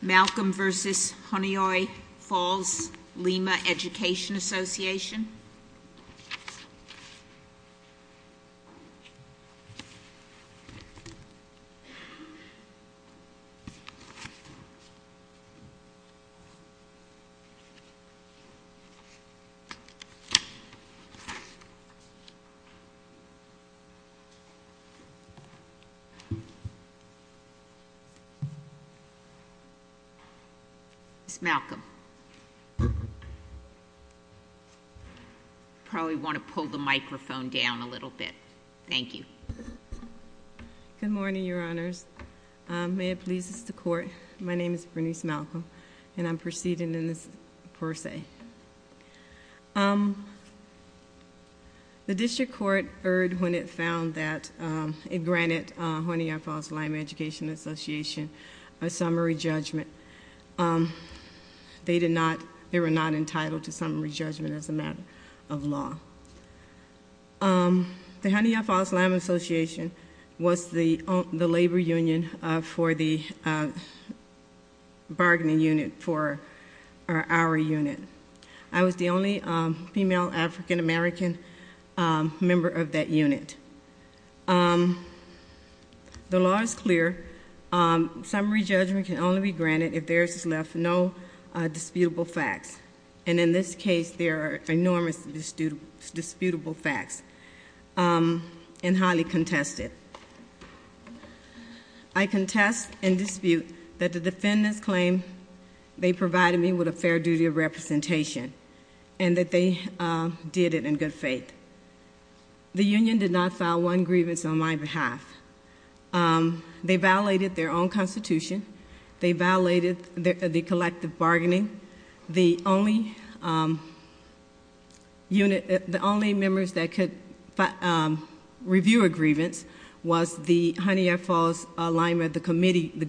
Malcolm v. Honeoye Falls-Lima Education Association Good morning, Your Honors. May it please the Court, my name is Bernice Malcolm, and I'm proceeding in this per se. The District Court heard when it found that, it granted Honeoye Falls-Lima Education Association a summary judgment. They did not, they were not entitled to summary judgment as a matter of law. The Honeoye Falls-Lima Association was the labor union for the bargaining unit for our unit. I was the only female African American member of that unit. The law is clear. Summary judgment can only be granted if there is left no disputable facts. And in this case, there are enormous disputable facts and highly contested. I contest and dispute that the defendants claim they provided me with a fair duty of representation and that they did it in good faith. The union did not file one grievance on my behalf. They violated their own constitution. They violated the collective bargaining. The only unit, the only members that could review a grievance was the Honeoye Falls-Lima, the committee, the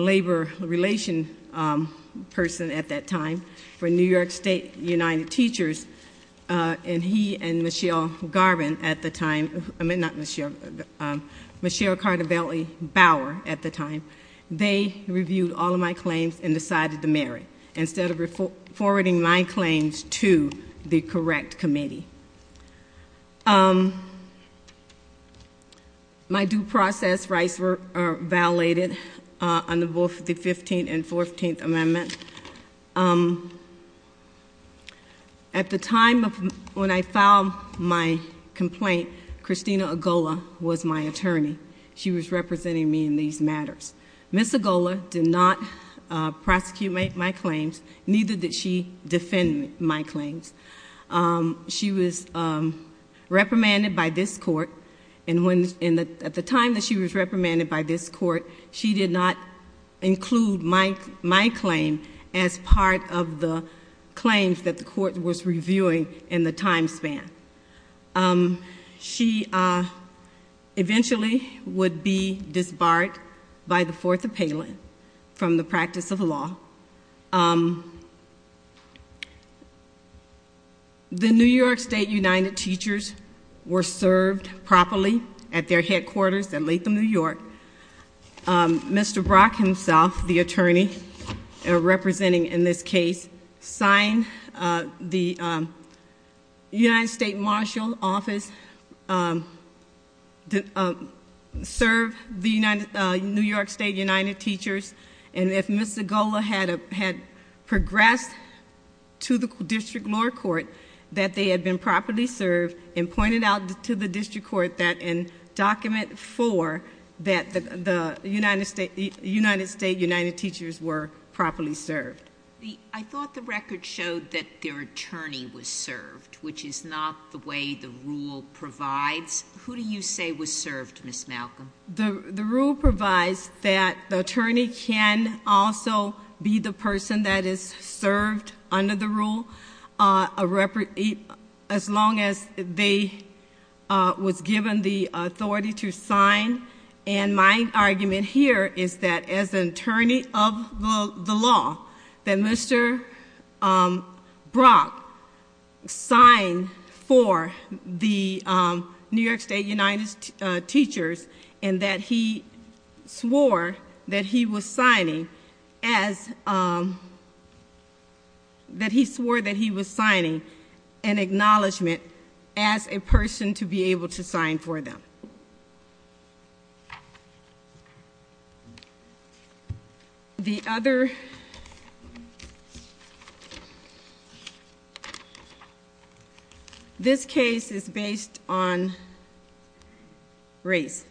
labor relation person at that time for New York State United Teachers, and he and Michelle Garvin at the time, not Michelle, Michelle Cardavelli-Bauer at the time, they reviewed all of my claims and decided to marry instead of forwarding my claims to the correct committee. My due process rights were violated under both the 15th and 14th amendments. At the time when I filed my complaint, Christina Agola was my attorney. She was representing me in these matters. Ms. Agola did not prosecute my claims, neither did she defend my claims. She was reprimanded by this court, and at the time that she was reprimanded by this court, she did not include my claim as part of the claims that the court was reviewing in the time span. She eventually would be disbarred by the Fourth Appellant from the practice of law. The New York State United Teachers were served properly at their headquarters in Latham, New York. Mr. Brock himself, the attorney representing in this case, signed the United States Marshal Office to serve the New York State United Teachers, and if Ms. Agola had progressed to the district lower court, that they had been properly served, and pointed out to the district court that in Document 4 that the United States United Teachers were properly served. I thought the record showed that their attorney was served, which is not the way the rule provides. Who do you say was served, Ms. Malcolm? The rule provides that the attorney can also be the person that is served under the rule as long as they was given the authority to sign, and my argument here is that as an attorney of the law, that Mr. Brock signed for the New York State United Teachers, and that he swore that he was signing an acknowledgement as a person to be able to sign for them. The other, this case is based on race.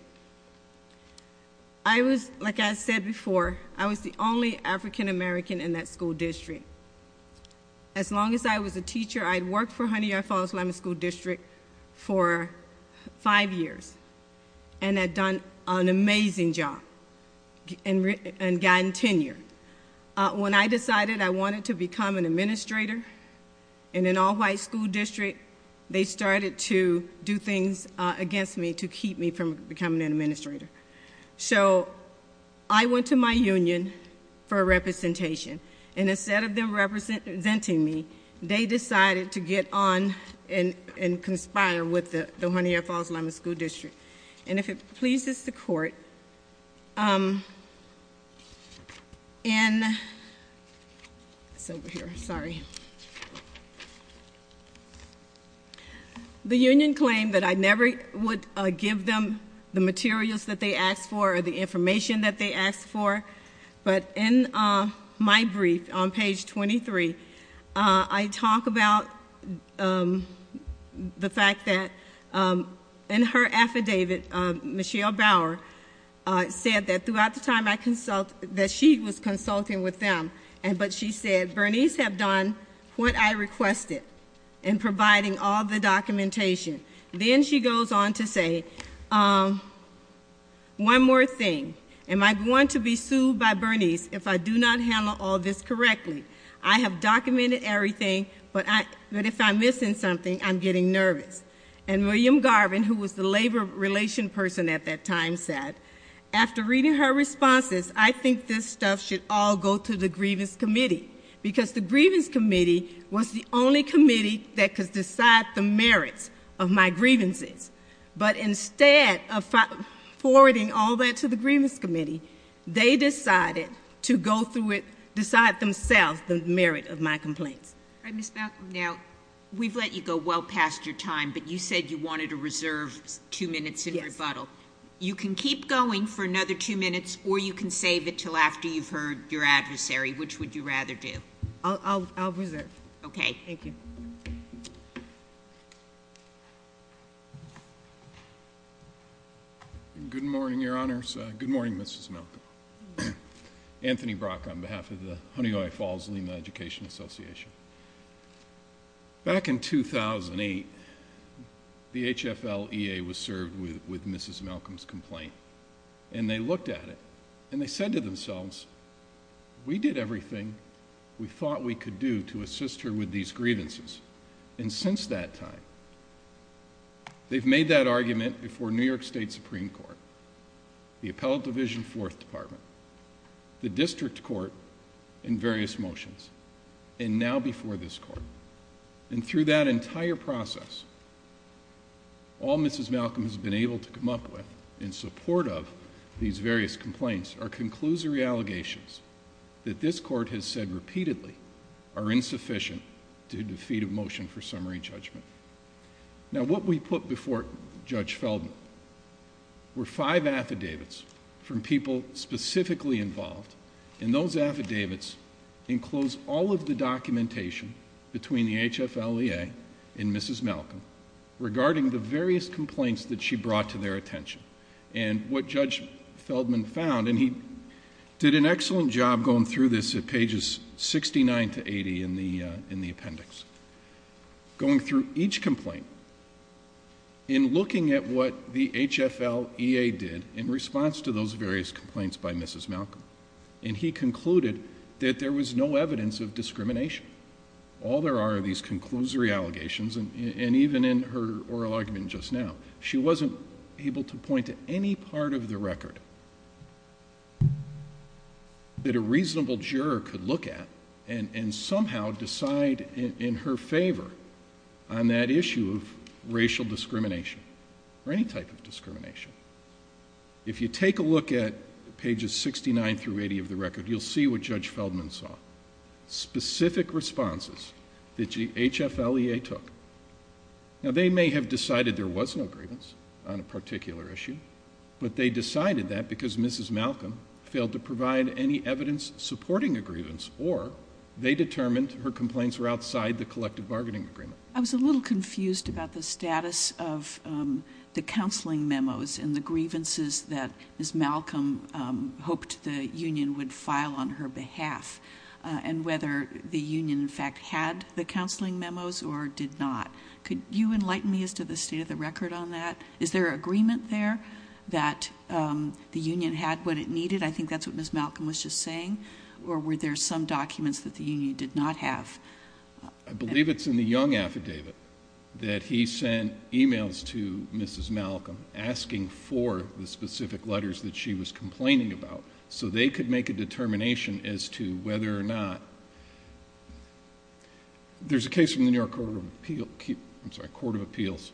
I was, like I said before, I was the only African American in that district for five years, and had done an amazing job, and gotten tenure. When I decided I wanted to become an administrator in an all-white school district, they started to do things against me to keep me from becoming an administrator. So I went to my union for representation, and instead of them representing me, they decided to get on and conspire with the Johannia Falls Elementary School District. And if it pleases the court, in, it's over here, sorry. The union claimed that I never would give them the materials that they asked for or the information that they asked for, but in my brief on page 23, I talk about the fact that in her affidavit, Michelle Bauer said that throughout the time that she was consulting with them, but she said, Bernice have done what I requested in providing all the documentation. Then she goes on to say, one more thing, am I going to be sued by Bernice if I do not handle all this correctly? I have documented everything, but if I'm missing something, I'm getting nervous. And William Garvin, who was the labor relation person at that time, said, after reading her responses, I think this stuff should all go to the grievance committee, because the grievance committee was the only committee that could decide the merits of my grievances. But instead of forwarding all that to the grievance committee, they decided to go through it, decide themselves the merit of my complaints. Ms. Malcolm, now, we've let you go well past your time, but you said you wanted to reserve two minutes in rebuttal. Yes. You can keep going for another two minutes, or you can save it until after you've heard your adversary. Which would you rather do? I'll reserve. Okay. Thank you. Good morning, Your Honors. Good morning, Mrs. Malcolm. Anthony Brock on behalf of the Honeoye Falls Lima Education Association. Back in 2008, the HFL-EA was served with Mrs. Malcolm's complaint, and they looked at it, and they said to themselves, we did everything we thought we could do to assist her with these grievances, and since that time, they've made that argument before New York State Supreme Court, the Appellate Division Fourth Department, the District Court, and various motions, and now before this Court. And through that entire process, all Mrs. Malcolm has been able to come up with in support of these various complaints are conclusory allegations that this Court has said repeatedly are insufficient to defeat a motion for summary judgment. Now, what we put before Judge Feldman were five affidavits from people specifically involved, and those affidavits enclosed all of the documentation between the HFL-EA and Mrs. Malcolm regarding the various And he did an excellent job going through this at pages 69 to 80 in the appendix. Going through each complaint, in looking at what the HFL-EA did in response to those various complaints by Mrs. Malcolm, and he concluded that there was no evidence of discrimination. All there are are these conclusory allegations, and even in her oral argument just now, she wasn't able to point to any part of the record that a reasonable juror could look at and somehow decide in her favor on that issue of racial discrimination or any type of discrimination. If you take a look at pages 69 through 80 of the record, you'll see what Judge Feldman saw. Specific responses that the HFL-EA took. Now, they may have decided there was no grievance on a particular issue, but they decided that because Mrs. Malcolm failed to provide any evidence supporting a grievance or they determined her complaints were outside the collective bargaining agreement. I was a little confused about the status of the counseling memos and the grievances that Mrs. Malcolm hoped the union would file on her behalf and whether the union, in fact, had the counseling memos or did not. Could you enlighten me as to the state of the record on that? Is there agreement there that the union had what it needed? I think that's what Mrs. Malcolm was just saying. Or were there some documents that the union did not have? I believe it's in the Young Affidavit that he sent e-mails to Mrs. Malcolm asking for the specific letters that she was complaining about so they could make a determination as to whether or not. There's a case from the New York Court of Appeals,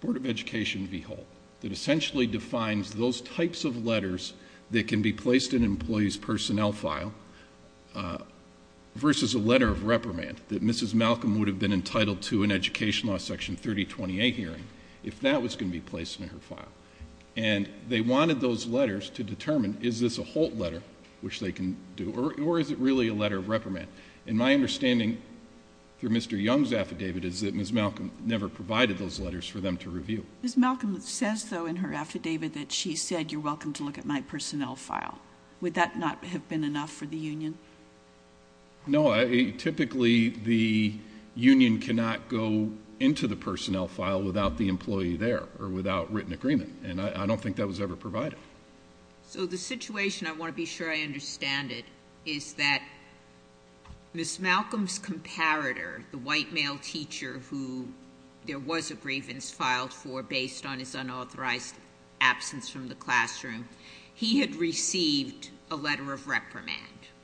Board of Education v. Holt, that essentially defines those types of letters that can be placed in an employee's personnel file versus a letter of reprimand that Mrs. Malcolm would have been entitled to an Education Law Section 3028 hearing if that was going to be placed in her file. And they wanted those letters to determine is this a Holt letter, which they can do, or is it really a letter of reprimand. And my understanding through Mr. Young's affidavit Mrs. Malcolm says, though, in her affidavit that she said, you're welcome to look at my personnel file. Would that not have been enough for the union? No. Typically the union cannot go into the personnel file without the employee there or without written agreement, and I don't think that was ever provided. So the situation, I want to be sure I understand it, is that Mrs. Malcolm's comparator, the white male teacher who there was a grievance filed for based on his unauthorized absence from the classroom, he had received a letter of reprimand,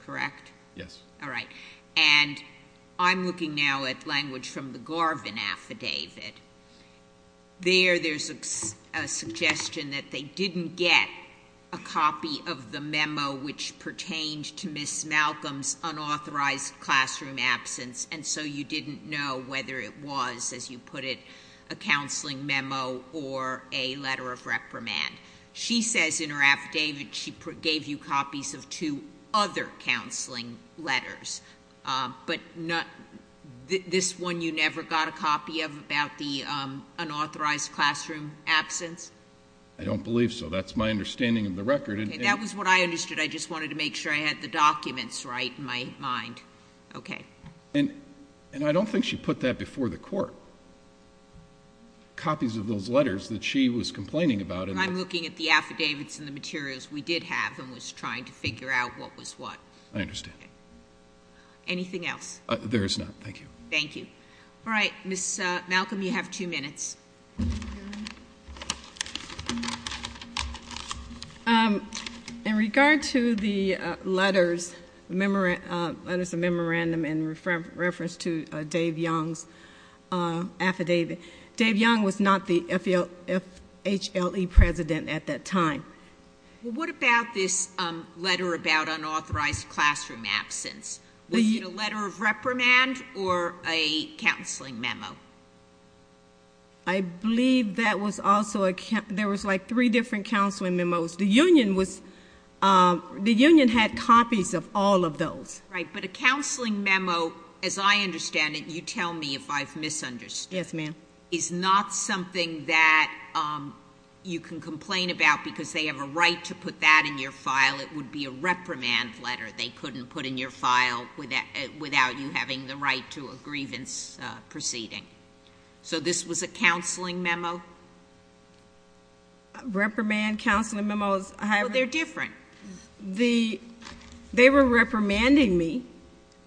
correct? Yes. All right. And I'm looking now at language from the Garvin affidavit. There there's a suggestion that they didn't get a copy of the memo which pertained to Mrs. Malcolm's unauthorized classroom absence, and so you didn't know whether it was, as you put it, a counseling memo or a letter of reprimand. She says in her affidavit she gave you copies of two other counseling letters, but this one you never got a copy of about the unauthorized classroom absence? I don't believe so. That's my understanding of the record. That was what I understood. I just wanted to make sure I had the documents right in my mind. Okay. And I don't think she put that before the court, copies of those letters that she was complaining about. I'm looking at the affidavits and the materials we did have and was trying to figure out what was what. I understand. Anything else? There is not. Thank you. Thank you. All right. Mrs. Malcolm, you have two minutes. In regard to the letters, letters of memorandum in reference to Dave Young's affidavit, Dave Young was not the FHLE president at that time. Well, what about this letter about unauthorized classroom absence? Was it a letter of reprimand or a counseling memo? I believe there was like three different counseling memos. The union had copies of all of those. Right. But a counseling memo, as I understand it, you tell me if I've misunderstood. Yes, ma'am. Is not something that you can complain about because they have a right to put that in your file. It would be a reprimand letter they couldn't put in your file without you having the right to a grievance proceeding. So this was a counseling memo? Reprimand counseling memos. Well, they're different. They were reprimanding me.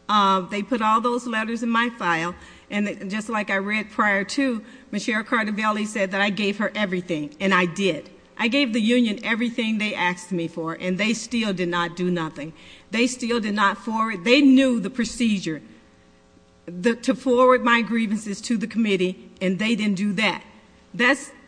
They put all those letters in my file. And just like I read prior to, Ms. Cheryl Cardobelli said that I gave her everything, and I did. I gave the union everything they asked me for, and they still did not do nothing. They still did not forward. They knew the procedure to forward my grievances to the committee, and they didn't do that.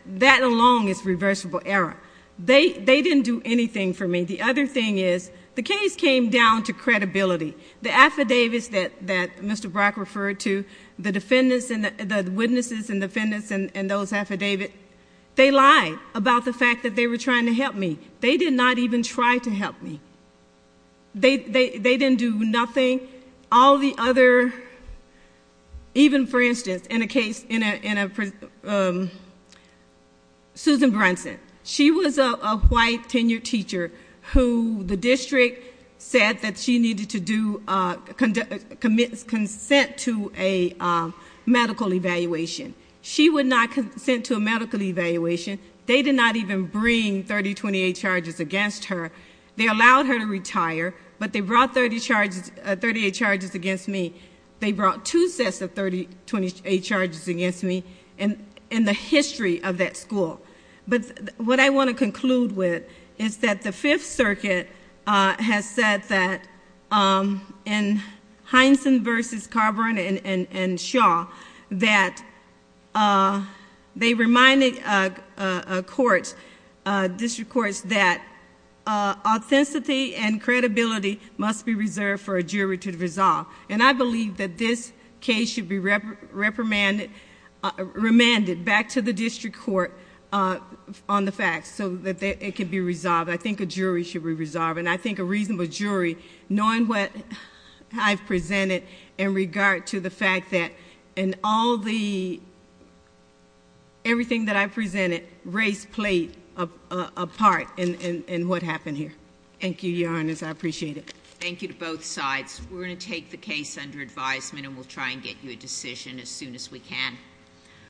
That alone is reversible error. They didn't do anything for me. The other thing is the case came down to credibility. The affidavits that Mr. Brock referred to, the witnesses and defendants in those affidavits, they lied about the fact that they were trying to help me. They did not even try to help me. They didn't do nothing. All the other, even for instance, in a case, Susan Brunson, she was a white tenured teacher who the district said that she needed to consent to a medical evaluation. She would not consent to a medical evaluation. They did not even bring 3028 charges against her. They allowed her to retire, but they brought 30 charges, 38 charges against me. They brought two sets of 3028 charges against me in the history of that school. But what I want to conclude with is that the Fifth Circuit has said that in Heinsohn v. Carver and Shaw that they reminded courts, district courts, that authenticity and credibility must be reserved for a jury to resolve. And I believe that this case should be remanded back to the district court on the facts so that it can be resolved. I think a jury should be resolved, and I think a reasonable jury, knowing what I've presented in regard to the fact that in all the, everything that I've presented, race played a part in what happened here. Thank you, Your Honor, I appreciate it. Thank you to both sides. We're going to take the case under advisement, and we'll try and get you a decision as soon as we can.